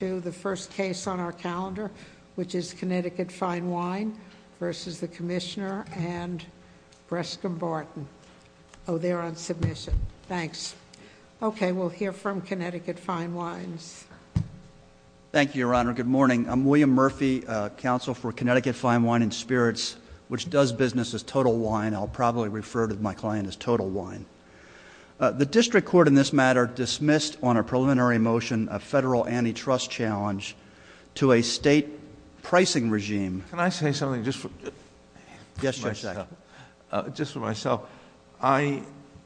to the first case on our calendar, which is Connecticut Fine Wine versus the Commissioner and Brescom Barton. Oh, they're on submission. Thanks. Okay, we'll hear from Connecticut Fine Wines. Thank you, Your Honor. Good morning. I'm William Murphy, counsel for Connecticut Fine Wine & Spirits, which does business as Total Wine. I'll probably refer to my client as Total Wine. The district court in this matter dismissed on a preliminary motion a federal antitrust challenge to a state pricing regime. Can I say something just for... Yes, Judge Sackett. Just for myself, I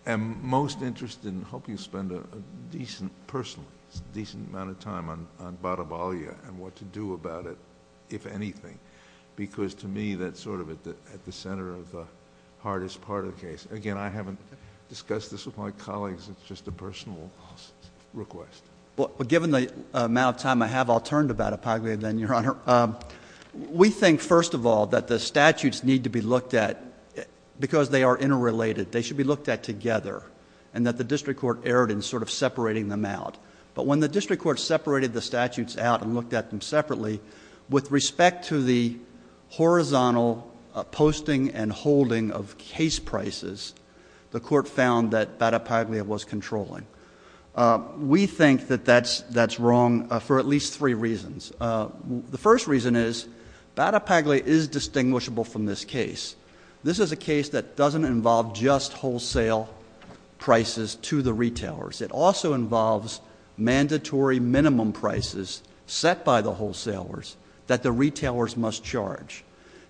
am most interested in helping you spend a decent, personal, decent amount of time on Bada Balia and what to do about it, if anything, because to me that's sort of at the center of the hardest part of the case. Again, I haven't discussed this with my colleagues. It's just a personal request. Well, given the amount of time I have, I'll turn to Bada Balia then, Your Honor. We think, first of all, that the statutes need to be looked at because they are interrelated. They should be looked at together and that the district court erred in sort of separating them out. But when the district court separated the statutes out and looked at them separately, with respect to the horizontal posting and holding of case prices, the court found that Bada Balia was controlling. We think that that's wrong for at least three reasons. The first reason is Bada Balia is distinguishable from this case. This is a case that doesn't involve just wholesale prices to the retailers. It also involves mandatory minimum prices set by the wholesalers that the retailers must charge.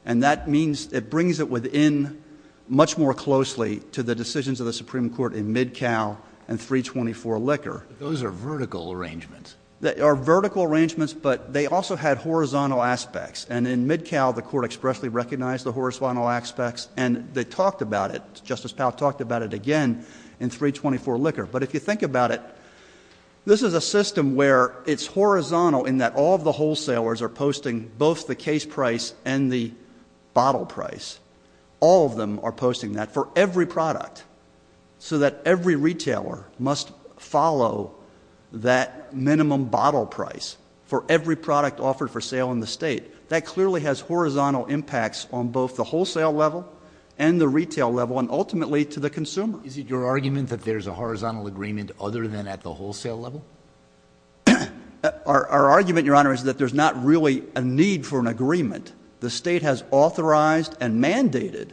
And that means it brings it within much more closely to the decisions of the Supreme Court in Midcow and 324 Liquor. Those are vertical arrangements. They are vertical arrangements, but they also had horizontal aspects. And in Midcow, the court expressly recognized the horizontal aspects and they talked about it. Justice Powell talked about it again in 324 Liquor. But if you think about it, this is a system where it's horizontal in that all of the wholesalers are posting both the case price and the bottle price. All of them are posting that for every product so that every retailer must follow that minimum bottle price for every product offered for sale in the state. That clearly has horizontal impacts on both the wholesale level and the retail level and ultimately to the consumer. Is it your argument that there's a horizontal agreement other than at the wholesale level? Our argument, Your Honor, is that there's not really a need for an agreement. The state has authorized and mandated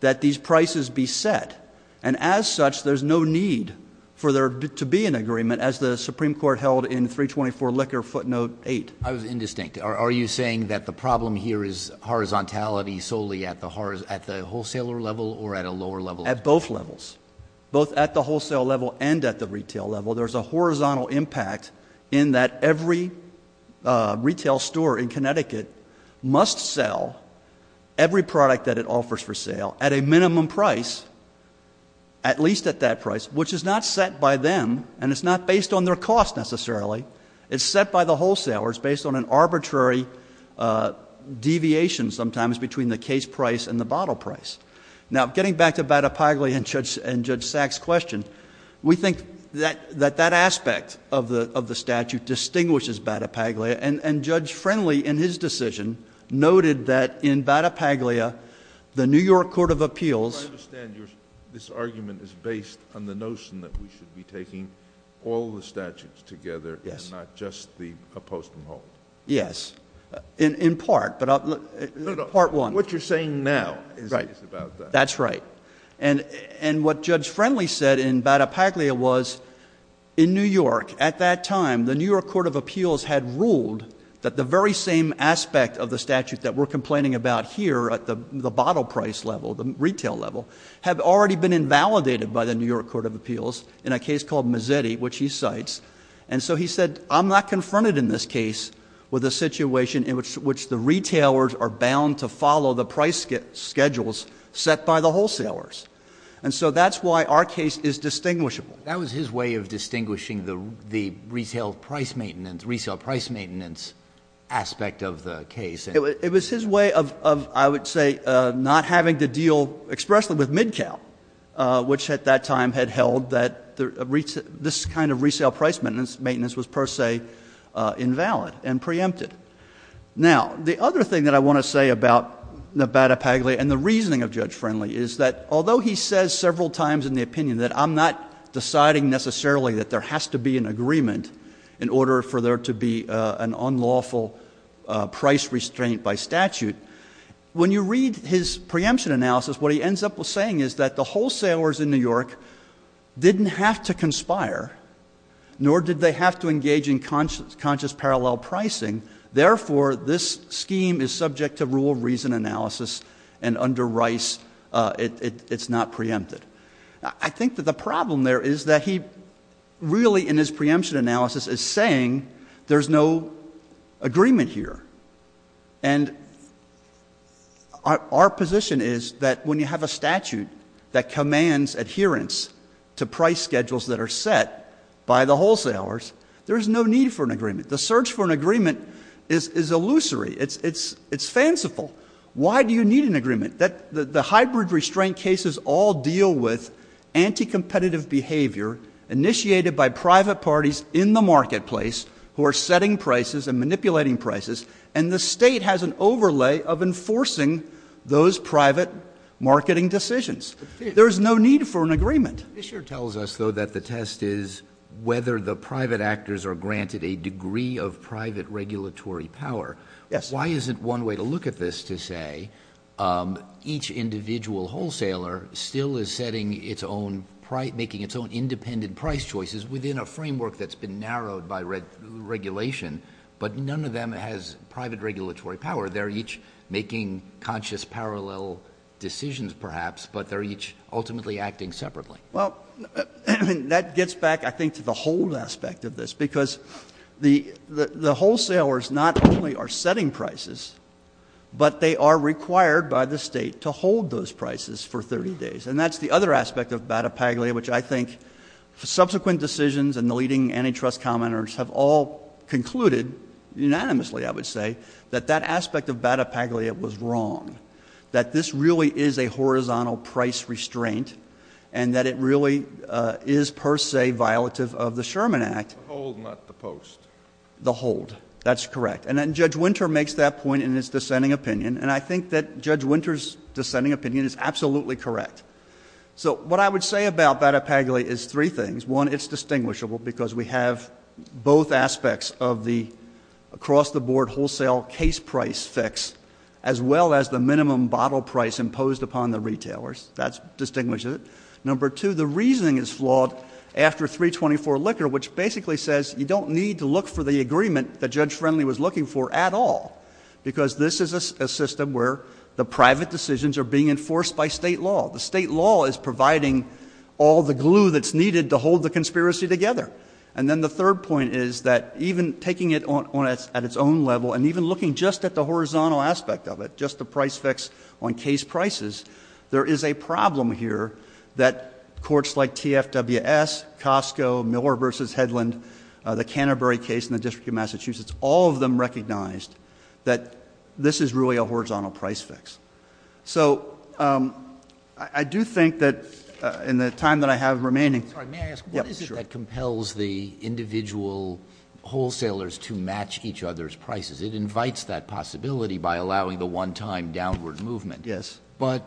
that these prices be set and as such there's no need for there to be an agreement as the Supreme Court held in 324 Liquor, footnote eight. I was indistinct. Are you saying that the problem here is horizontality solely at the wholesaler level or at a lower level? At both levels. Both at the wholesale level and at the retail level. There's a horizontal impact in that every retail store in Connecticut must sell every product that it offers for sale at a minimum price, at least at that price, which is not set by them and it's not based on their cost necessarily. It's set by the wholesaler. It's based on an arbitrary deviation sometimes between the case price and the bottle price. Now, getting back to Bada Paglia and Judge Sachs' question, we think that that aspect of the statute distinguishes Bada Paglia and Judge Friendly in his decision noted that in Bada Paglia, the New York Court of Appeals... I understand this argument is based on the notion that we should be taking all the statutes together and not just the post and hold. Yes. In part, but... No, no. What you're saying now is about that. That's right. And what Judge Friendly said in Bada Paglia was in New York at that time the New York Court of Appeals had ruled that the very same aspect of the statute that we're complaining about here at the bottle price level, the retail level, had already been invalidated by the New York Court of Appeals in a case called Mazzetti, which he cites. And so he said, I'm not confronted in this case with a situation in which the retailers are bound to follow the price schedules set by the wholesalers. And so that's why our case is distinguishable. That was his way of distinguishing the retail price maintenance, retail price maintenance aspect of the case. It was his way of, I would say, not having to deal expressly with mid-count, which at that time had held that this kind of resale price maintenance was per se invalid and preempted. Now, the other thing that I want to say about Bada Paglia and the reasoning of Judge Friendly is that although he says several times in the opinion that I'm not deciding necessarily that there has to be an agreement in order for there to be an unlawful price restraint by statute. When you read his preemption analysis, what he ends up saying is that the wholesalers in New York didn't have to conspire, nor did they have to engage in conscious parallel pricing. Therefore, this scheme is subject to rule of reason analysis and under Rice, it's not preempted. I think that the problem there is that he really in his preemption analysis is saying there's no agreement here. And our position is that when you have a statute that commands adherence to price schedules that are set by the wholesalers, there is no need for an agreement. The search for an agreement is illusory, it's fanciful. Why do you need an agreement? The hybrid restraint cases all deal with anti-competitive behavior initiated by private parties in the marketplace who are setting prices and manipulating prices, and the state has an overlay of enforcing those private marketing decisions. There's no need for an agreement. This here tells us, though, that the test is whether the private actors are granted a degree of private regulatory power. Why isn't one way to look at this to say each individual wholesaler still is making its own independent price choices within a framework that's been narrowed by regulation. But none of them has private regulatory power. They're each making conscious parallel decisions perhaps, but they're each ultimately acting separately. Well, that gets back, I think, to the whole aspect of this. Because the wholesalers not only are setting prices, but they are required by the state to hold those prices for 30 days. And that's the other aspect of Bata Paglia, which I think subsequent decisions and the leading antitrust commenters have all concluded, unanimously I would say, that that aspect of Bata Paglia was wrong. That this really is a horizontal price restraint, and that it really is per se violative of the Sherman Act. The hold, not the post. The hold, that's correct. And then Judge Winter makes that point in his dissenting opinion, and I think that Judge Winter's dissenting opinion is absolutely correct. So what I would say about Bata Paglia is three things. One, it's distinguishable because we have both aspects of the across the board wholesale case price fix, as well as the minimum bottle price imposed upon the retailers. That distinguishes it. Number two, the reasoning is flawed after 324 liquor, which basically says, you don't need to look for the agreement that Judge Friendly was looking for at all. Because this is a system where the private decisions are being enforced by state law. The state law is providing all the glue that's needed to hold the conspiracy together. And then the third point is that even taking it at its own level, and even looking just at the horizontal aspect of it, just the price fix on case prices. There is a problem here that courts like TFWS, Costco, Miller versus Headland, the Canterbury case in the District of Massachusetts, all of them recognized that this is really a horizontal price fix. So I do think that in the time that I have remaining- It allows the individual wholesalers to match each other's prices. It invites that possibility by allowing the one time downward movement. Yes. But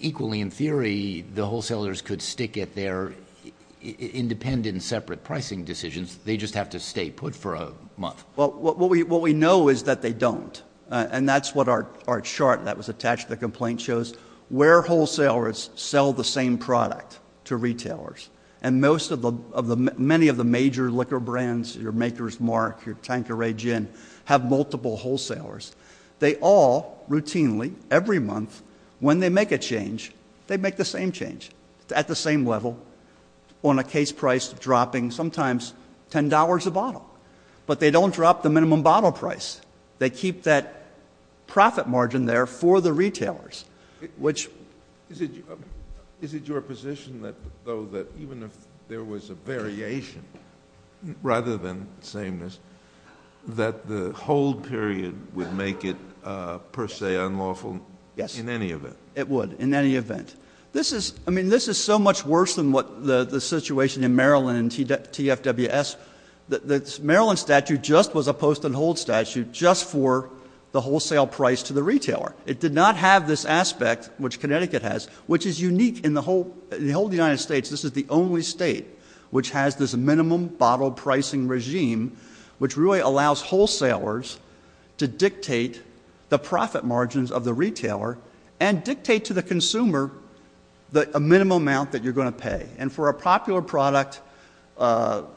equally in theory, the wholesalers could stick at their independent separate pricing decisions. They just have to stay put for a month. Well, what we know is that they don't. And that's what our chart that was attached to the complaint shows, where wholesalers sell the same product to retailers. And many of the major liquor brands, your Maker's Mark, your Tanqueray Gin, have multiple wholesalers. They all routinely, every month, when they make a change, they make the same change at the same level on a case price dropping sometimes $10 a bottle. But they don't drop the minimum bottle price. They keep that profit margin there for the retailers, which- Is it your position, though, that even if there was a variation, rather than sameness, that the hold period would make it per se unlawful? Yes. In any event. It would, in any event. This is, I mean, this is so much worse than what the situation in Maryland and TFWS. The Maryland statute just was a post and hold statute just for the wholesale price to the retailer. It did not have this aspect, which Connecticut has, which is unique in the whole United States. This is the only state which has this minimum bottle pricing regime, which really allows wholesalers to dictate the profit margins of the retailer, and dictate to the consumer a minimum amount that you're going to pay. And for a popular product, you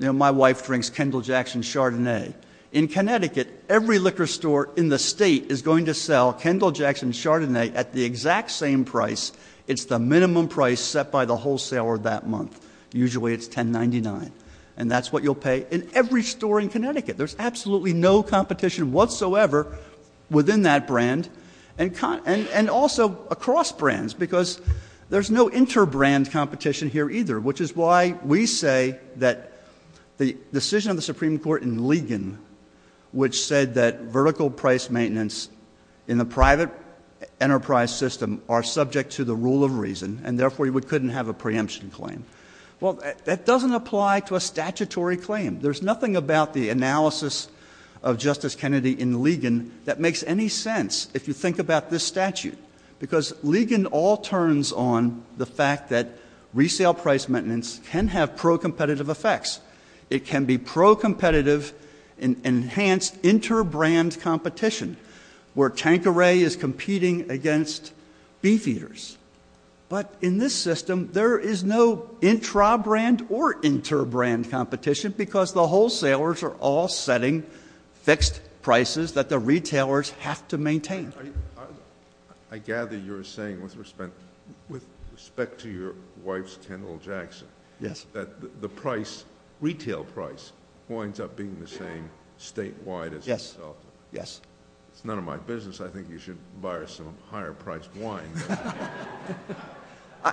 know, my wife drinks Kendall Jackson Chardonnay. In Connecticut, every liquor store in the state is going to sell Kendall Jackson Chardonnay at the exact same price. It's the minimum price set by the wholesaler that month. Usually it's $10.99. And that's what you'll pay in every store in Connecticut. There's absolutely no competition whatsoever within that brand. And also across brands, because there's no inter-brand competition here either. Which is why we say that the decision of the Supreme Court in Ligon, which said that vertical price maintenance in the private enterprise system are subject to the rule of reason. And therefore, you couldn't have a preemption claim. Well, that doesn't apply to a statutory claim. There's nothing about the analysis of Justice Kennedy in Ligon that makes any sense if you think about this statute. Because Ligon all turns on the fact that resale price maintenance can have pro-competitive effects. It can be pro-competitive enhanced inter-brand competition, where Tanqueray is competing against Beef Eaters. But in this system, there is no intra-brand or inter-brand competition because the wholesalers are all setting fixed prices that the retailers have to maintain. I gather you're saying, with respect to your wife's Kendall Jackson. Yes. That the retail price winds up being the same statewide as- Yes, yes. It's none of my business. I think you should buy her some higher priced wine.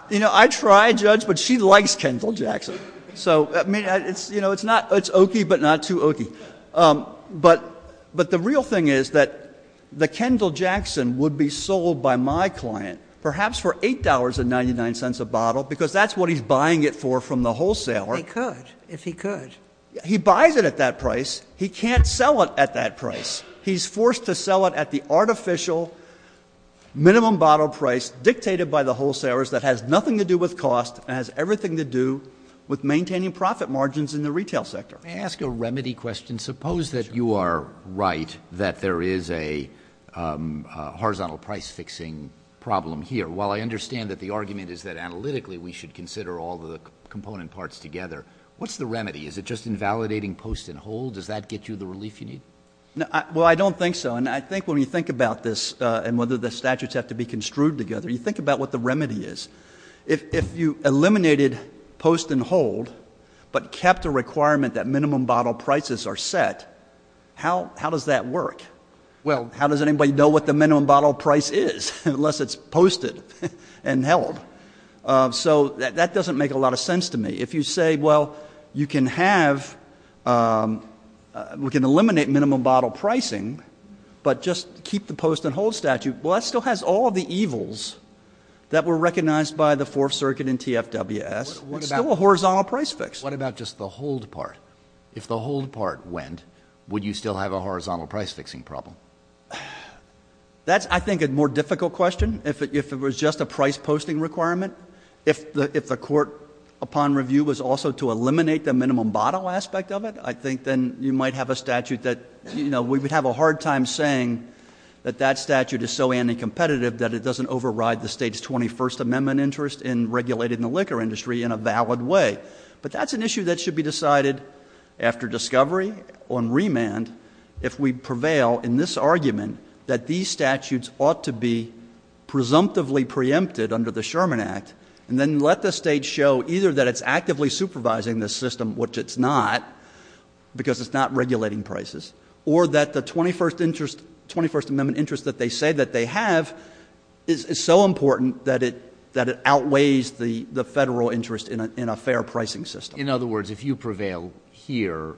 You know, I tried, Judge, but she likes Kendall Jackson. So, I mean, it's oaky, but not too oaky. But the real thing is that the Kendall Jackson would be sold by my client, perhaps for $8.99 a bottle, because that's what he's buying it for from the wholesaler. He could, if he could. He buys it at that price. He can't sell it at that price. He's forced to sell it at the artificial minimum bottle price, dictated by the wholesalers that has nothing to do with cost, and has everything to do with maintaining profit margins in the retail sector. May I ask a remedy question? Suppose that you are right, that there is a horizontal price fixing problem here. While I understand that the argument is that analytically we should consider all the component parts together, what's the remedy? Is it just invalidating post and hold? Does that get you the relief you need? Well, I don't think so. And I think when you think about this, and whether the statutes have to be construed together, you think about what the remedy is. If you eliminated post and hold, but kept the requirement that minimum bottle prices are set, how does that work? Well, how does anybody know what the minimum bottle price is, unless it's posted and held? So that doesn't make a lot of sense to me. If you say, well, you can have, we can eliminate minimum bottle pricing, but just keep the post and hold statute. Well, that still has all of the evils that were recognized by the Fourth Circuit in TFWS. It's still a horizontal price fix. What about just the hold part? If the hold part went, would you still have a horizontal price fixing problem? That's, I think, a more difficult question. If it was just a price posting requirement, if the court, upon review, was also to eliminate the minimum bottle aspect of it, I think then you might have a statute that, we would have a hard time saying that that statute is so anti-competitive that it doesn't override the state's 21st Amendment interest in regulating the liquor industry in a valid way. But that's an issue that should be decided after discovery on remand if we prevail in this argument that these statutes ought to be presumptively preempted under the Sherman Act. And then let the state show either that it's actively supervising the system, which it's not, because it's not regulating prices, or that the 21st Amendment interest that they say that they have is so important that it outweighs the federal interest in a fair pricing system. In other words, if you prevail here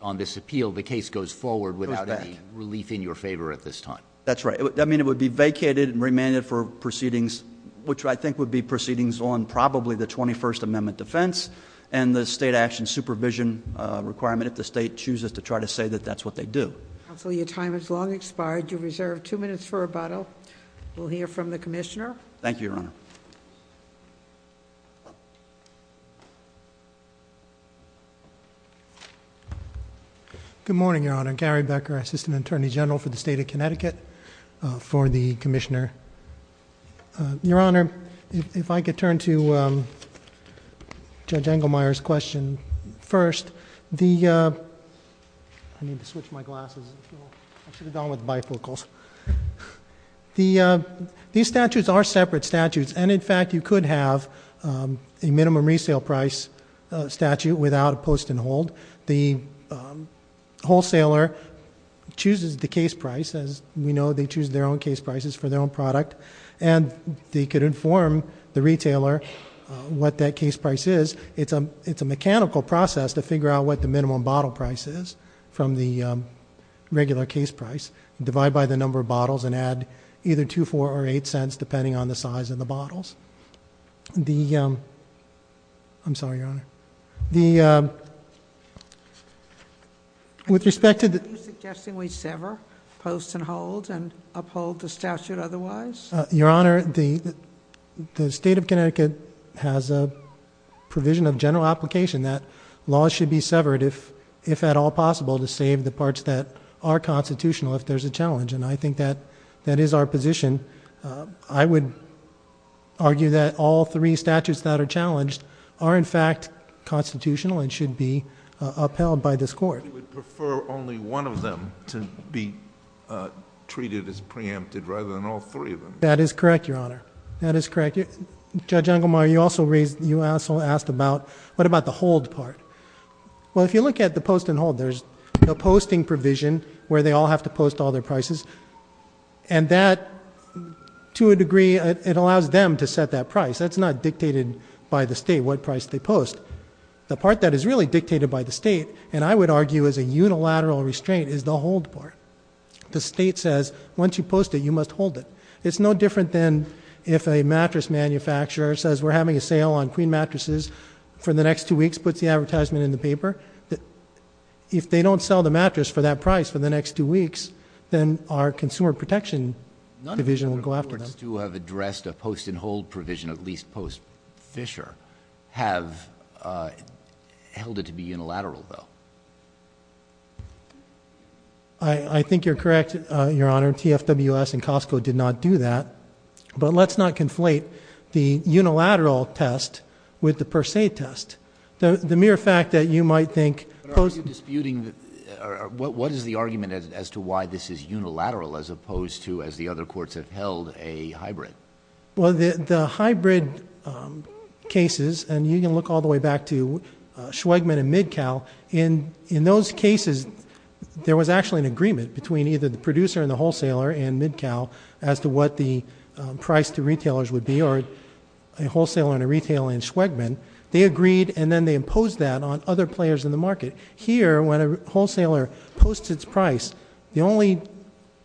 on this appeal, the case goes forward without any relief in your favor at this time. That's right. I mean, it would be vacated and remanded for proceedings, which I think would be proceedings on probably the 21st Amendment defense. And the state action supervision requirement, if the state chooses to try to say that that's what they do. Counsel, your time has long expired. You're reserved two minutes for rebuttal. Thank you, Your Honor. Good morning, Your Honor. Gary Becker, Assistant Attorney General for the State of Connecticut for the Commissioner. Your Honor, if I could turn to Judge Engelmeyer's question first. The, I need to switch my glasses, I should have gone with bifocals. These statutes are separate statutes. And in fact, you could have a minimum resale price statute without a post and hold. The wholesaler chooses the case price. As we know, they choose their own case prices for their own product. And they could inform the retailer what that case price is. It's a mechanical process to figure out what the minimum bottle price is from the regular case price. Divide by the number of bottles and add either two, four, or eight cents, depending on the size of the bottles. The, I'm sorry, Your Honor. The, with respect to- Are you suggesting we sever post and hold and uphold the statute otherwise? Your Honor, the state of Connecticut has a provision of general application that laws should be severed if at all possible to save the parts that are constitutional if there's a challenge. And I think that that is our position. I would argue that all three statutes that are challenged are in fact constitutional and should be upheld by this court. We would prefer only one of them to be treated as preempted rather than all three of them. That is correct, Your Honor. That is correct. Judge Ungermeyer, you also raised, you also asked about, what about the hold part? Well, if you look at the post and hold, there's a posting provision where they all have to post all their prices. And that, to a degree, it allows them to set that price. That's not dictated by the state what price they post. The part that is really dictated by the state, and I would argue is a unilateral restraint, is the hold part. The state says, once you post it, you must hold it. It's no different than if a mattress manufacturer says we're having a sale on queen mattresses for the next two weeks, puts the advertisement in the paper. If they don't sell the mattress for that price for the next two weeks, then our consumer protection division will go after them. None of the reports to have addressed a post and hold provision, at least post Fisher, have held it to be unilateral though. I think you're correct, Your Honor. TFWS and Costco did not do that. But let's not conflate the unilateral test with the per se test. The mere fact that you might think- But are you disputing, what is the argument as to why this is unilateral as opposed to as the other courts have held a hybrid? Well, the hybrid cases, and you can look all the way back to Schwegman and MidCal. In those cases, there was actually an agreement between either the producer and the wholesaler and MidCal as to what the price to retailers would be, or a wholesaler and a retailer in Schwegman. They agreed, and then they imposed that on other players in the market. Here, when a wholesaler posts its price, the only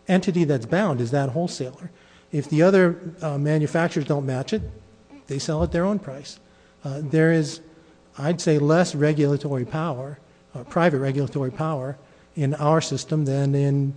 entity that's bound is that wholesaler. If the other manufacturers don't match it, they sell at their own price. There is, I'd say, less regulatory power, private regulatory power, in our system than in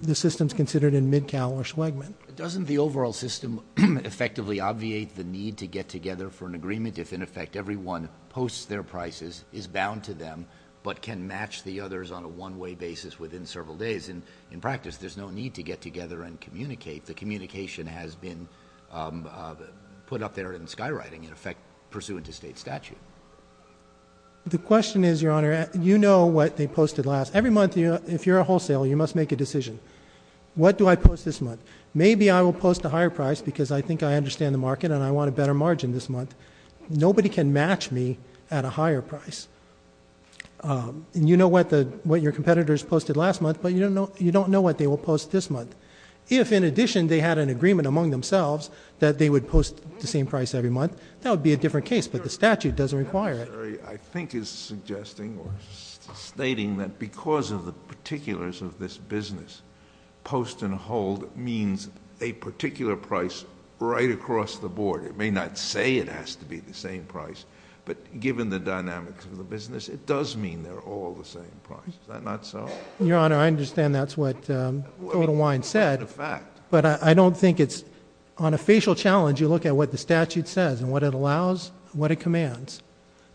the systems considered in MidCal or Schwegman. Doesn't the overall system effectively obviate the need to get together for an agreement if, in effect, everyone posts their prices, is bound to them, but can match the others on a one-way basis within several days? And in practice, there's no need to get together and communicate. If the communication has been put up there in skywriting, in effect, pursuant to state statute. The question is, your honor, you know what they posted last. Every month, if you're a wholesale, you must make a decision. What do I post this month? Maybe I will post a higher price because I think I understand the market and I want a better margin this month. Nobody can match me at a higher price. And you know what your competitors posted last month, but you don't know what they will post this month. If, in addition, they had an agreement among themselves that they would post the same price every month, that would be a different case. But the statute doesn't require it. I think it's suggesting or stating that because of the particulars of this business, post and hold means a particular price right across the board. It may not say it has to be the same price, but given the dynamics of the business, it does mean they're all the same price, is that not so? Your honor, I understand that's what Total Wine said, but I don't think it's. On a facial challenge, you look at what the statute says and what it allows, what it commands.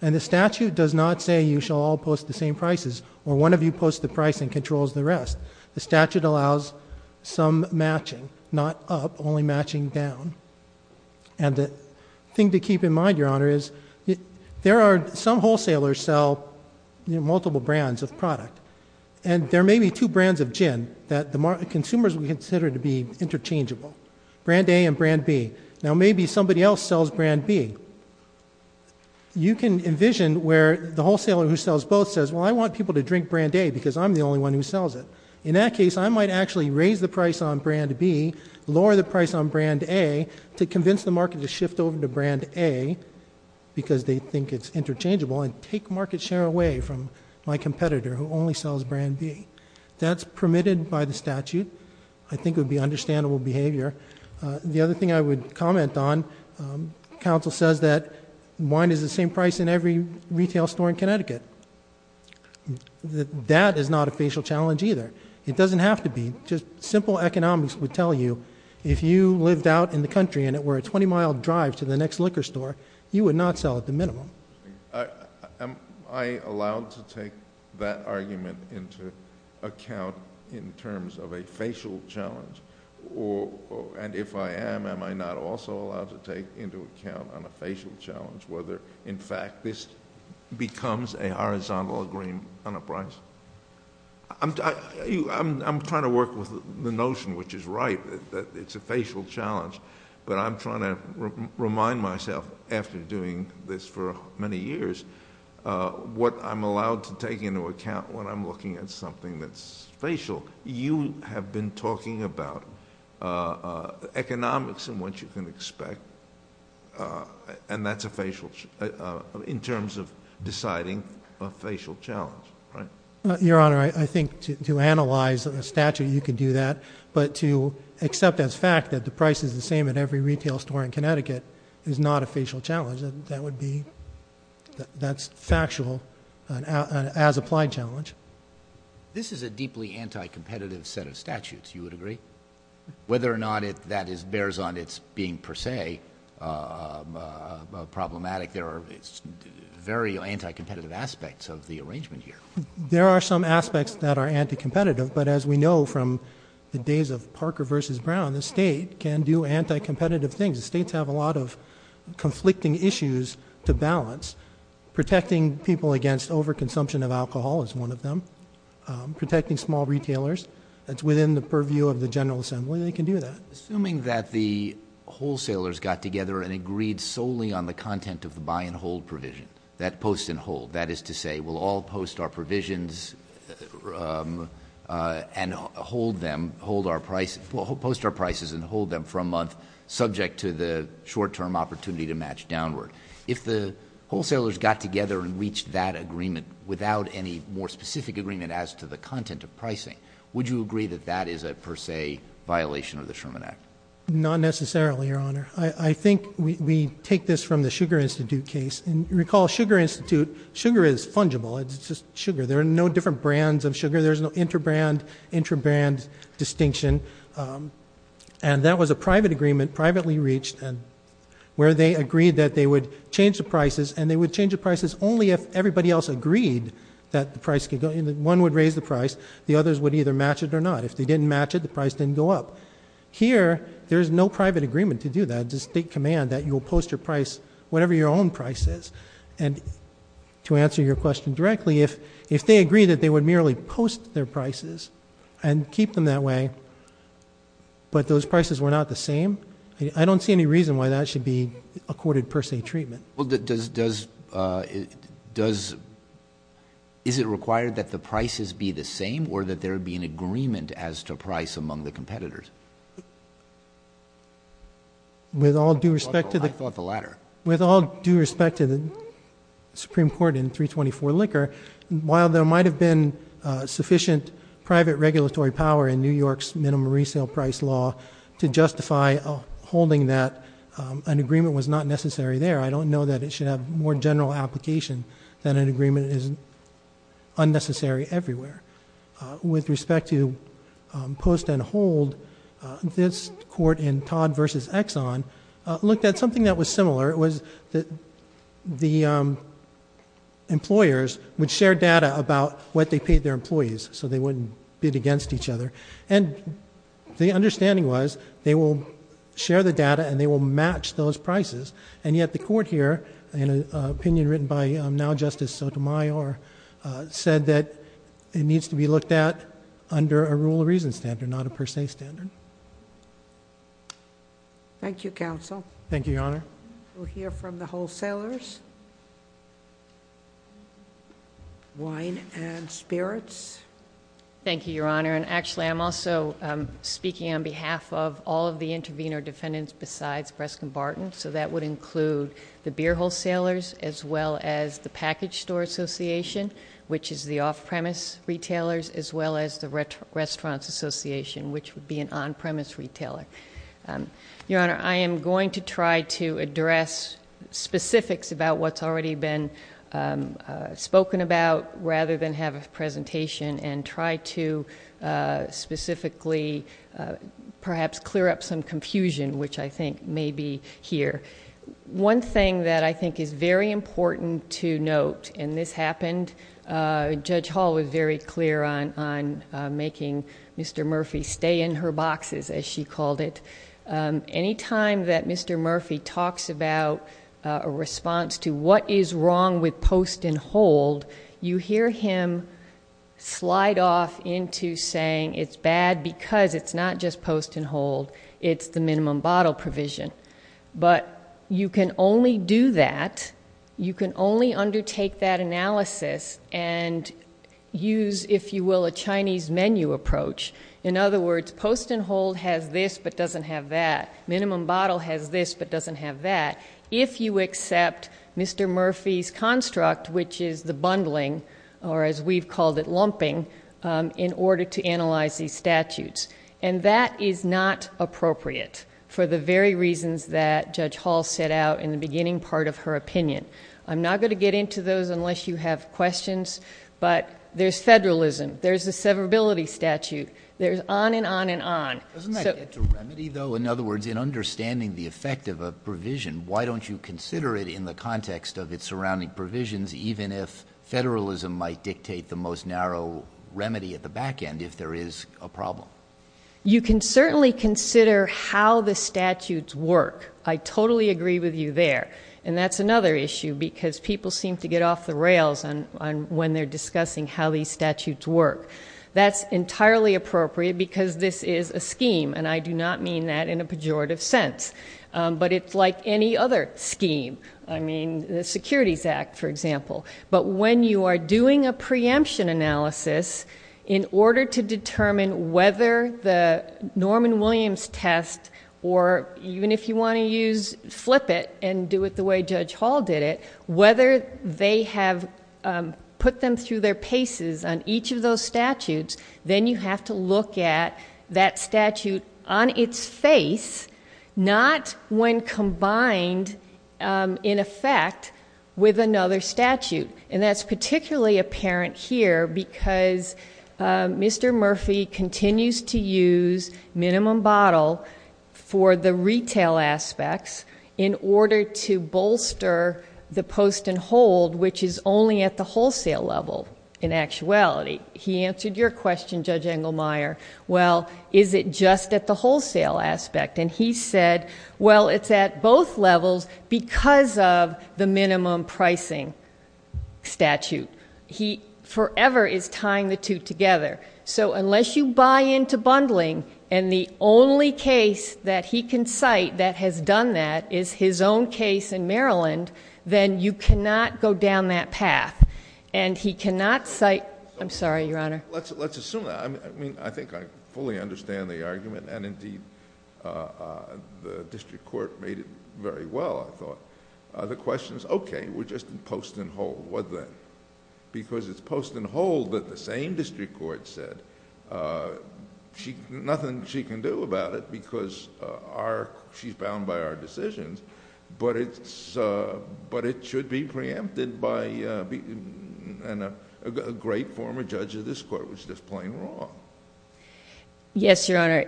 And the statute does not say you shall all post the same prices, or one of you post the price and controls the rest. The statute allows some matching, not up, only matching down. And the thing to keep in mind, your honor, is there are some wholesalers sell multiple brands of product. And there may be two brands of gin that the consumers would consider to be interchangeable, brand A and brand B. Now maybe somebody else sells brand B. You can envision where the wholesaler who sells both says, well, I want people to drink brand A because I'm the only one who sells it. In that case, I might actually raise the price on brand B, lower the price on brand A, to convince the market to shift over to brand A, because they think it's interchangeable, and take market share away from my competitor who only sells brand B. That's permitted by the statute. I think it would be understandable behavior. The other thing I would comment on, counsel says that wine is the same price in every retail store in Connecticut. That is not a facial challenge either. It doesn't have to be. Just simple economics would tell you, if you lived out in the country and it were a 20 mile drive to the next liquor store, you would not sell at the minimum. Am I allowed to take that argument into account in terms of a facial challenge? Or, and if I am, am I not also allowed to take into account on a facial challenge, whether, in fact, this becomes a horizontal agreement on a price? I'm trying to work with the notion, which is right, that it's a facial challenge. But I'm trying to remind myself, after doing this for many years, what I'm allowed to take into account when I'm looking at something that's facial. You have been talking about economics and what you can expect, and that's a facial, in terms of deciding a facial challenge, right? Your Honor, I think to analyze a statute, you can do that. But to accept as fact that the price is the same at every retail store in Connecticut is not a facial challenge. That would be, that's factual as applied challenge. This is a deeply anti-competitive set of statutes, you would agree? Whether or not that bears on its being per se problematic, there are very anti-competitive aspects of the arrangement here. There are some aspects that are anti-competitive, but as we know from the days of Parker versus Brown, the state can do anti-competitive things. The states have a lot of conflicting issues to balance. Protecting people against over-consumption of alcohol is one of them. Protecting small retailers, that's within the purview of the General Assembly, they can do that. Assuming that the wholesalers got together and agreed solely on the content of the buy and hold provision. That post and hold, that is to say, we'll all post our provisions and hold them, post our prices and hold them for a month subject to the short term opportunity to match downward. If the wholesalers got together and reached that agreement without any more specific agreement as to the content of pricing, would you agree that that is a per se violation of the Sherman Act? Not necessarily, your honor. I think we take this from the Sugar Institute case. Recall Sugar Institute, sugar is fungible, it's just sugar. There are no different brands of sugar. There's no inter-brand, intra-brand distinction. And that was a private agreement, privately reached, where they agreed that they would change the prices. And they would change the prices only if everybody else agreed that one would raise the price. The others would either match it or not. If they didn't match it, the price didn't go up. Here, there's no private agreement to do that. It's a state command that you'll post your price, whatever your own price is. And to answer your question directly, if they agree that they would merely post their prices and keep them that way, but those prices were not the same, I don't see any reason why that should be accorded per se treatment. Well, does, is it required that the prices be the same? Or that there be an agreement as to price among the competitors? With all due respect to the- I thought the latter. With all due respect to the Supreme Court in 324 Licker, while there might have been sufficient private regulatory power in New York's minimum resale price law to justify holding that, an agreement was not necessary there. I don't know that it should have more general application than an agreement is unnecessary everywhere. With respect to post and hold, this court in Todd versus Exxon looked at something that was similar. It was that the employers would share data about what they paid their employees, so they wouldn't bid against each other. And the understanding was, they will share the data and they will match those prices. And yet the court here, in an opinion written by now Justice Sotomayor, said that it needs to be looked at under a rule of reason standard, not a per se standard. Thank you, Counsel. Thank you, Your Honor. We'll hear from the wholesalers. Wine and spirits. Thank you, Your Honor, and actually I'm also speaking on behalf of all of the intervener defendants besides Breskin Barton. So that would include the beer wholesalers as well as the package store association, which is the off-premise retailers, as well as the restaurants association, which would be an on-premise retailer. Your Honor, I am going to try to address specifics about what's already been spoken about rather than have a presentation and try to specifically perhaps clear up some confusion which I think may be here. One thing that I think is very important to note, and this happened, Judge Hall was very clear on making Mr. Murphy stay in her boxes, as she called it. Any time that Mr. Murphy talks about a response to what is wrong with post and hold, you hear him slide off into saying it's bad because it's not just post and hold. It's the minimum bottle provision. But you can only do that. You can only undertake that analysis and use, if you will, a Chinese menu approach. In other words, post and hold has this but doesn't have that. Minimum bottle has this but doesn't have that. If you accept Mr. Murphy's construct, which is the bundling, or as we've called it, lumping, in order to analyze these statutes. And that is not appropriate for the very reasons that Judge Hall set out in the beginning part of her opinion. I'm not going to get into those unless you have questions, but there's federalism. There's a severability statute. There's on and on and on. So- Doesn't that get to remedy, though? In other words, in understanding the effect of a provision, why don't you consider it in the context of its surrounding provisions, even if federalism might dictate the most narrow remedy at the back end if there is a problem? You can certainly consider how the statutes work. I totally agree with you there. And that's another issue, because people seem to get off the rails when they're discussing how these statutes work. That's entirely appropriate because this is a scheme, and I do not mean that in a pejorative sense. But it's like any other scheme. I mean, the Securities Act, for example. But when you are doing a preemption analysis in order to determine whether the Norman Williams test, or even if you want to use, flip it and do it the way Judge Hall did it, whether they have put them through their paces on each of those statutes. Then you have to look at that statute on its face, not when combined in effect with another statute. And that's particularly apparent here because Mr. Murphy continues to use minimum bottle for the retail aspects in order to bolster the post and hold which is only at the wholesale level in actuality. He answered your question, Judge Engelmeyer. Well, is it just at the wholesale aspect? And he said, well, it's at both levels because of the minimum pricing. Statute. He forever is tying the two together. So unless you buy into bundling and the only case that he can cite that has done that is his own case in Maryland. Then you cannot go down that path. And he cannot cite, I'm sorry, Your Honor. Let's assume that, I mean, I think I fully understand the argument and indeed the district court made it very well, I thought. The question is, okay, we're just in post and hold. What then? Because it's post and hold that the same district court said. Nothing she can do about it because she's bound by our decisions. But it should be preempted by a great former judge of this court, which is just plain wrong. Yes, Your Honor.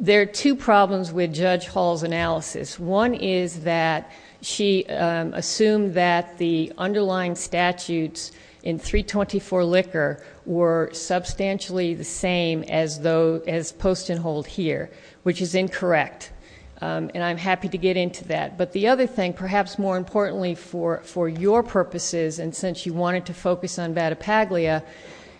There are two problems with Judge Hall's analysis. One is that she assumed that the underlying statutes in 324 Licker were substantially the same as post and hold here, which is incorrect. And I'm happy to get into that. But the other thing, perhaps more importantly for your purposes and since you wanted to focus on Vatopaglia.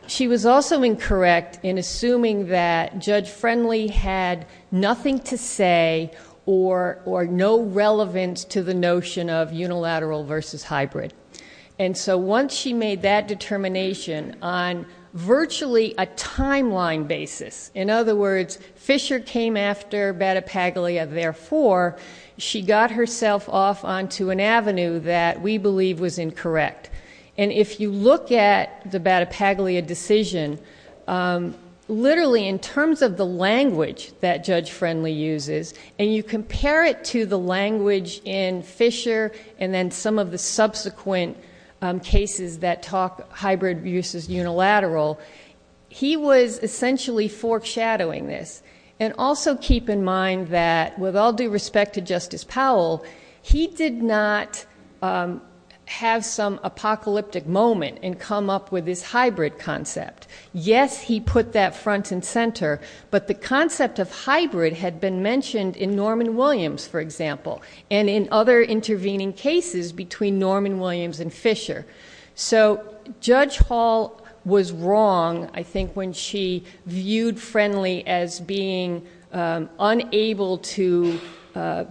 She was also incorrect in assuming that Judge Friendly had nothing to say or no relevance to the notion of unilateral versus hybrid. And so once she made that determination on virtually a timeline basis. In other words, Fisher came after Vatopaglia, therefore, she got herself off onto an avenue that we believe was incorrect. And if you look at the Vatopaglia decision, literally in terms of the language that Judge Friendly uses. And you compare it to the language in Fisher and then some of the subsequent cases that talk hybrid versus unilateral. He was essentially foreshadowing this. And also keep in mind that with all due respect to Justice Powell, he did not have some apocalyptic moment and come up with this hybrid concept. Yes, he put that front and center. But the concept of hybrid had been mentioned in Norman Williams, for example. And in other intervening cases between Norman Williams and Fisher. So Judge Hall was wrong, I think, when she viewed Friendly as being unable to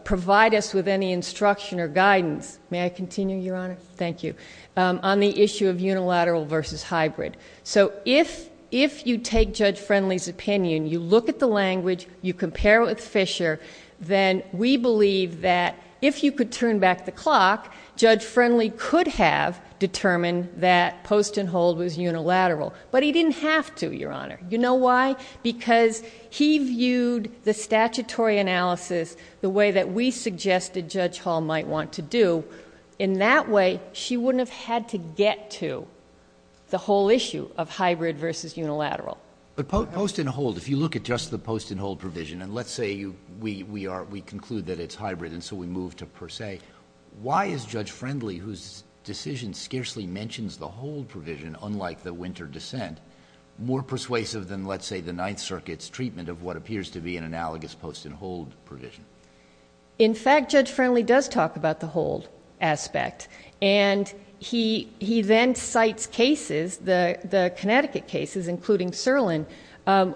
provide us with any instruction or guidance. May I continue, Your Honor? Thank you. On the issue of unilateral versus hybrid. So if you take Judge Friendly's opinion, you look at the language, you compare it with Fisher, then we believe that if you could turn back the clock, Judge Friendly could have determined that post and hold was unilateral. But he didn't have to, Your Honor. You know why? Because he viewed the statutory analysis the way that we suggested Judge Hall might want to do. In that way, she wouldn't have had to get to the whole issue of hybrid versus unilateral. But post and hold, if you look at just the post and hold provision, and let's say we conclude that it's hybrid and so we move to per se. Why is Judge Friendly, whose decision scarcely mentions the hold provision, unlike the winter dissent, more persuasive than, let's say, the Ninth Circuit's treatment of what appears to be an analogous post and hold provision? In fact, Judge Friendly does talk about the hold aspect. And he then cites cases, the Connecticut cases, including Serlin,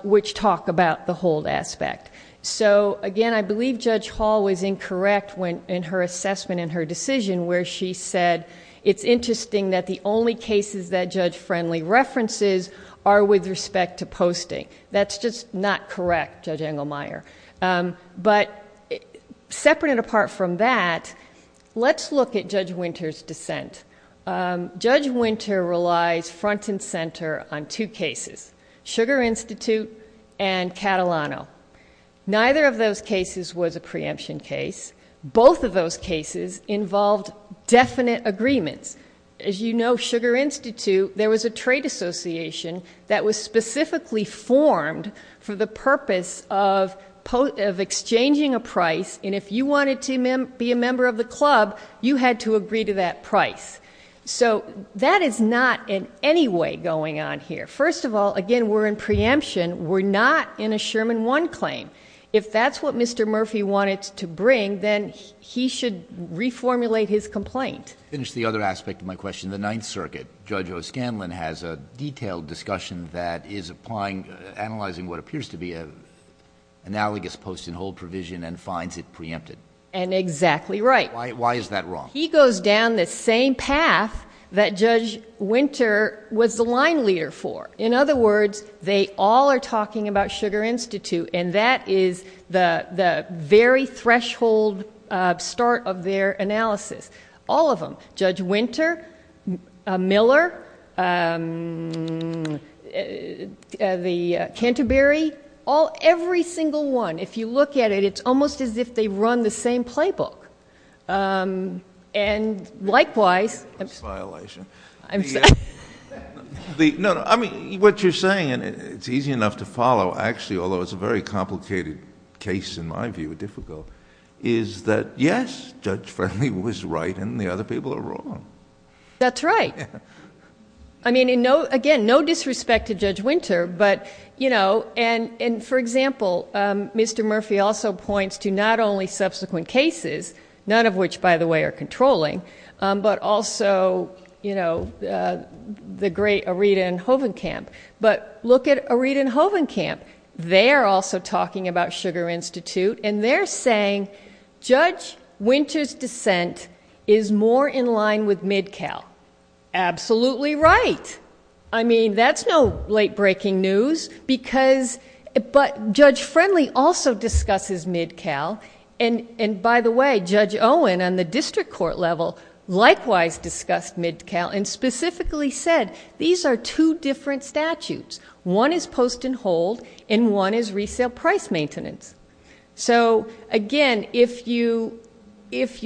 which talk about the hold aspect. So again, I believe Judge Hall was incorrect in her assessment and her decision where she said, it's interesting that the only cases that Judge Friendly references are with respect to posting. That's just not correct, Judge Engelmeyer. But separate and apart from that, let's look at Judge Winter's dissent. Judge Winter relies front and center on two cases, Sugar Institute and Catalano. Neither of those cases was a preemption case. Both of those cases involved definite agreements. As you know, Sugar Institute, there was a trade association that was specifically formed for the purpose of exchanging a price. And if you wanted to be a member of the club, you had to agree to that price. So that is not in any way going on here. First of all, again, we're in preemption. We're not in a Sherman One claim. If that's what Mr. Murphy wanted to bring, then he should reformulate his complaint. Finish the other aspect of my question. The Ninth Circuit, Judge O'Scanlan has a detailed discussion that is analyzing what appears to be an analogous post and hold provision and finds it preempted. And exactly right. Why is that wrong? He goes down the same path that Judge Winter was the line leader for. In other words, they all are talking about Sugar Institute. And that is the very threshold start of their analysis. All of them. Judge Winter, Miller, the Canterbury, every single one. If you look at it, it's almost as if they run the same playbook. And likewise... It's a violation. I'm sorry. No, I mean, what you're saying, and it's easy enough to follow actually, although it's a very complicated case in my view, difficult, is that, yes, Judge Fernley was right and the other people are wrong. That's right. I mean, again, no disrespect to Judge Winter, but, you know, and for example, Mr. Murphy also points to not only subsequent cases, none of which, by the way, are controlling, but also, you know, the great Aretha and Hovenkamp. But look at Aretha and Hovenkamp. They're also talking about Sugar Institute. And they're saying Judge Winter's dissent is more in line with MidCal. Absolutely right. I mean, that's no late-breaking news. Because, but Judge Fernley also discusses MidCal. And by the way, Judge Owen, on the district court level, likewise discussed MidCal and specifically said, these are two different statutes. One is post and hold, and one is resale price maintenance. So, again, if you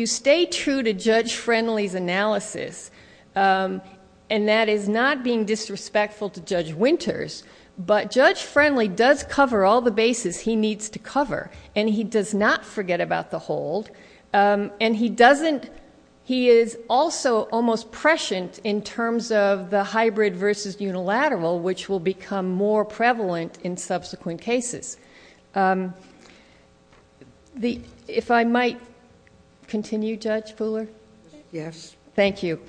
stay true to Judge Fernley's analysis, and that is not being disrespectful to Judge Winters, but Judge Fernley does cover all the bases he needs to cover. And he does not forget about the hold. And he doesn't, he is also almost prescient in terms of the hybrid versus unilateral, which will become more prevalent in subsequent cases. If I might continue, Judge Fuller? Yes. Thank you.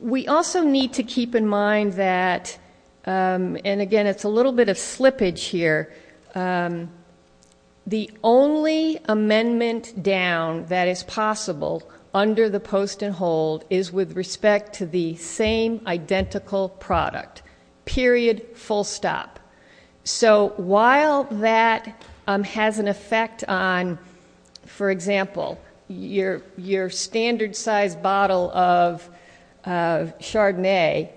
We also need to keep in mind that, and again, it's a little bit of slippage here, the only amendment down that is possible under the post and hold is with respect to the same identical product. Period. Full stop. So while that has an effect on, for example, your standard size bottle of Chardonnay,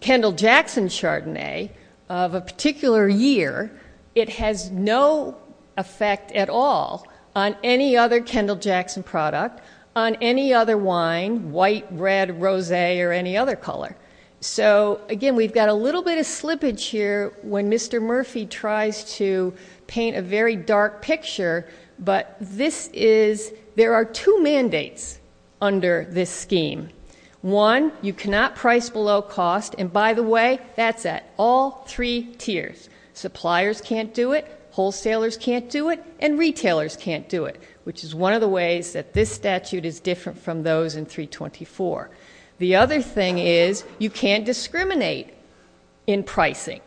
Kendall Jackson Chardonnay of a particular year, it has no effect at all on any other Kendall Jackson product, on any other wine, white, red, rosé, or any other color. So again, we've got a little bit of slippage here when Mr. Murphy tries to paint a very dark picture, but this is, there are two mandates under this scheme. One, you cannot price below cost, and by the way, that's at all three tiers. Suppliers can't do it, wholesalers can't do it, and retailers can't do it, which is one of the ways that this statute is different from those in 324. The other thing is you can't discriminate in pricing.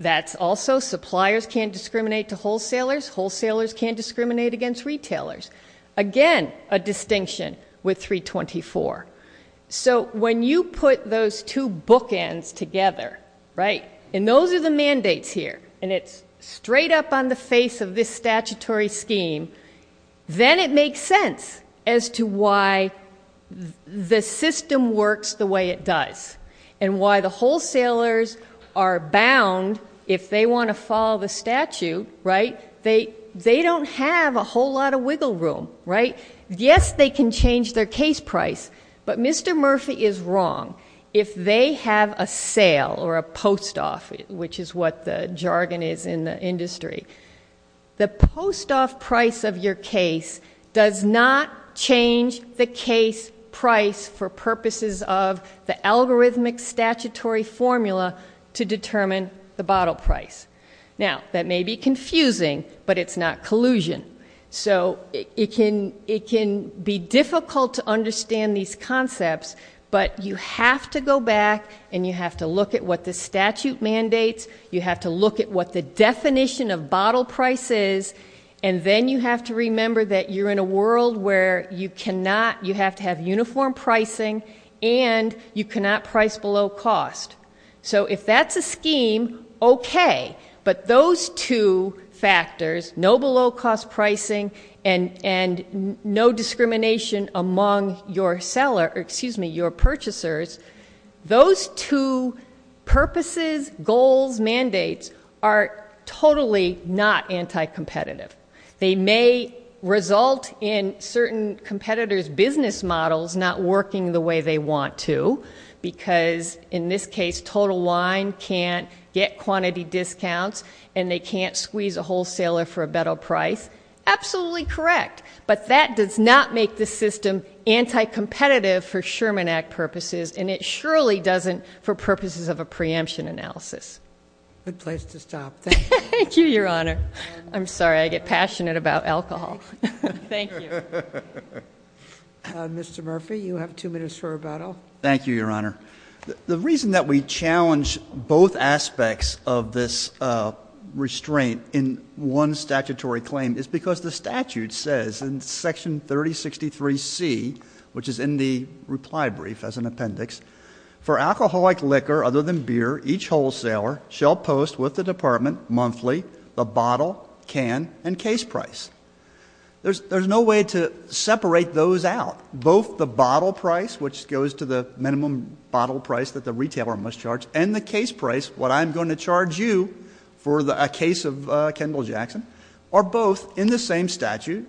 That's also suppliers can't discriminate to wholesalers, wholesalers can't discriminate against retailers. Again, a distinction with 324. So when you put those two bookends together, right, and those are the mandates here, and it's straight up on the face of this statutory scheme, then it makes sense as to why the system works the way it does and why the wholesalers are bound, if they want to follow the statute, right, they don't have a whole lot of wiggle room, right? Yes, they can change their case price, but Mr. Murphy is wrong. If they have a sale or a post-off, which is what the jargon is in the industry, the post-off price of your case does not change the case price for purposes of the algorithmic statutory formula to determine the bottle price. Now, that may be confusing, but it's not collusion. So it can be difficult to understand these concepts, but you have to go back and you have to look at what the statute mandates, you have to look at what the definition of bottle price is, and then you have to remember that you're in a world where you have to have uniform pricing and you cannot price below cost. So if that's a scheme, okay, but those two factors, no below-cost pricing and no discrimination among your purchasers, those two purposes, goals, mandates are totally not anti-competitive. They may result in certain competitors' business models not working the way they want to, because in this case, Total Wine can't get quantity discounts and they can't squeeze a wholesaler for a bottle price. Absolutely correct, but that does not make the system anti-competitive for Sherman Act purposes, and it surely doesn't for purposes of a preemption analysis. Good place to stop. Thank you. Thank you, Your Honor. I'm sorry, I get passionate about alcohol. Thank you. Mr. Murphy, you have 2 minutes for rebuttal. Thank you, Your Honor. The reason that we challenge both aspects of this restraint in one statutory claim is because the statute says in Section 3063C, which is in the reply brief as an appendix, for alcoholic liquor other than beer, each wholesaler shall post with the department monthly the bottle, can, and case price. There's no way to separate those out. Both the bottle price, which goes to the minimum bottle price that the retailer must charge, and the case price, what I'm going to charge you for a case of Kendall Jackson, are both in the same statute.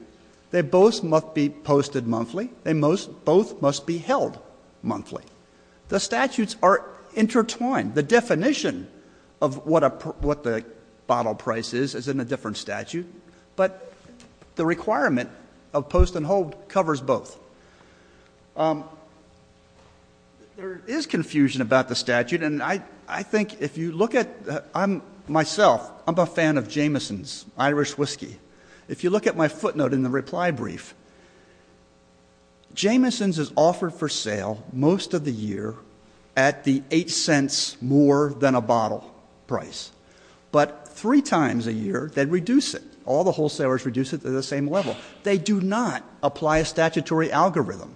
They both must be posted monthly. They both must be held monthly. The statutes are intertwined. The definition of what the bottle price is is in a different statute, but the requirement of post and hold covers both. There is confusion about the statute, and I think if you look at it, myself, I'm a fan of Jameson's Irish whiskey. If you look at my footnote in the reply brief, Jameson's is offered for sale most of the year at the eight cents more than a bottle price, but three times a year they reduce it. All the wholesalers reduce it to the same level. They do not apply a statutory algorithm.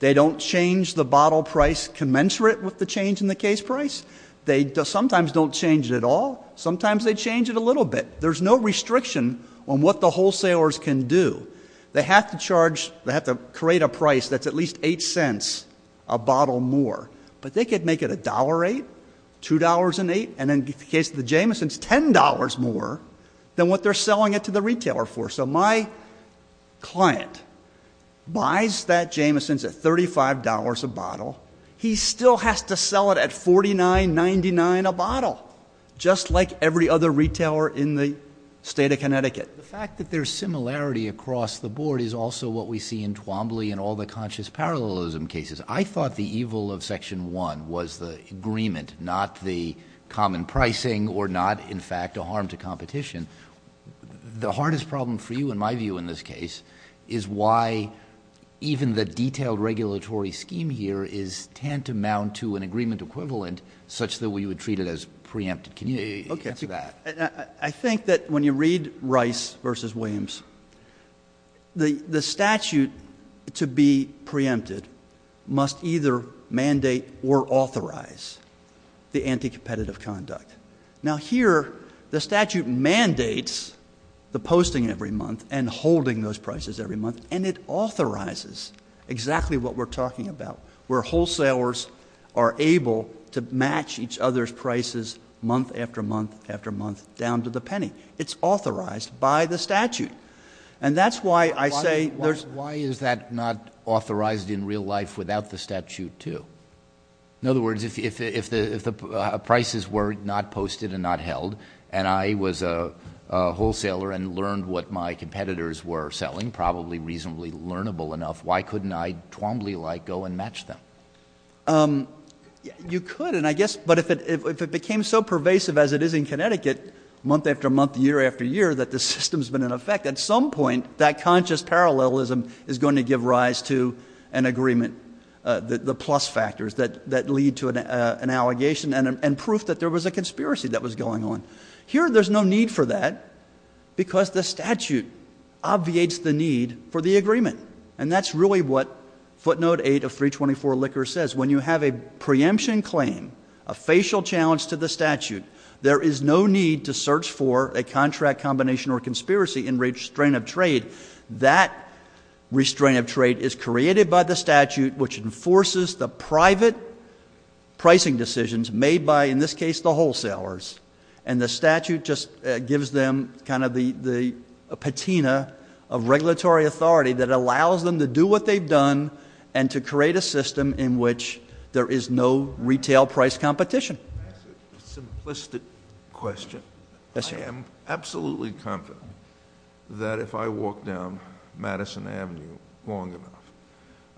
They don't change the bottle price commensurate with the change in the case price. They sometimes don't change it at all. Sometimes they change it a little bit. There's no restriction on what the wholesalers can do. They have to charge, they have to create a price that's at least eight cents a bottle more, but they could make it $1.08, $2.08, and in the case of the Jameson's, $10 more than what they're selling it to the retailer for. So my client buys that Jameson's at $35 a bottle. He still has to sell it at $49.99 a bottle, just like every other retailer in the state of Connecticut. The fact that there's similarity across the board is also what we see in Twombly and all the conscious parallelism cases. I thought the evil of Section 1 was the agreement, not the common pricing, or not, in fact, a harm to competition. The hardest problem for you, in my view, in this case, is why even the detailed regulatory scheme here is tantamount to an agreement equivalent such that we would treat it as preempted. Can you answer that? I think that when you read Rice v. Williams, the statute to be preempted must either mandate or authorize the anti-competitive conduct. Now, here, the statute mandates the posting every month and holding those prices every month, and it authorizes exactly what we're talking about, where wholesalers are able to match each other's prices month after month after month down to the penny. It's authorized by the statute. And that's why I say there's... Why is that not authorized in real life without the statute, too? In other words, if the prices were not posted and not held and I was a wholesaler and learned what my competitors were selling, probably reasonably learnable enough, why couldn't I Twombly-like go and match them? You could, and I guess... But if it became so pervasive as it is in Connecticut, month after month, year after year, that the system's been in effect, at some point that conscious parallelism is going to give rise to an agreement, the plus factors that lead to an allegation and proof that there was a conspiracy that was going on. Here, there's no need for that because the statute obviates the need for the agreement, and that's really what footnote 8 of 324 Licker says. When you have a preemption claim, a facial challenge to the statute, there is no need to search for a contract combination or conspiracy in restraint of trade. That restraint of trade is created by the statute, which enforces the private pricing decisions made by, in this case, the wholesalers, and the statute just gives them kind of the patina of regulatory authority that allows them to do what they've done and to create a system in which there is no retail price competition. A simplistic question. Yes, sir. I am absolutely confident that if I walk down Madison Avenue long enough,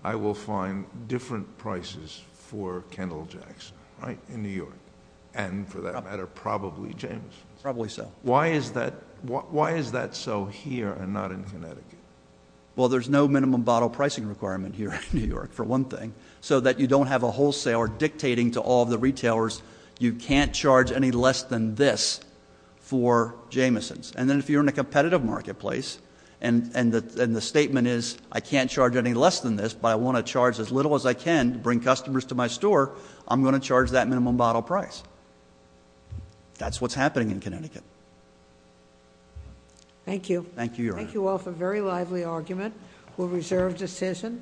I will find different prices for Kendall Jackson, right, in New York, and, for that matter, probably James. Probably so. Why is that so here and not in Connecticut? Well, there's no minimum bottle pricing requirement here in New York, for one thing, so that you don't have a wholesaler dictating to all of the retailers, you can't charge any less than this for Jameson's. And then if you're in a competitive marketplace and the statement is, I can't charge any less than this, but I want to charge as little as I can to bring customers to my store, I'm going to charge that minimum bottle price. That's what's happening in Connecticut. Thank you. Thank you, Your Honor. Thank you all for a very lively argument. We'll reserve decision.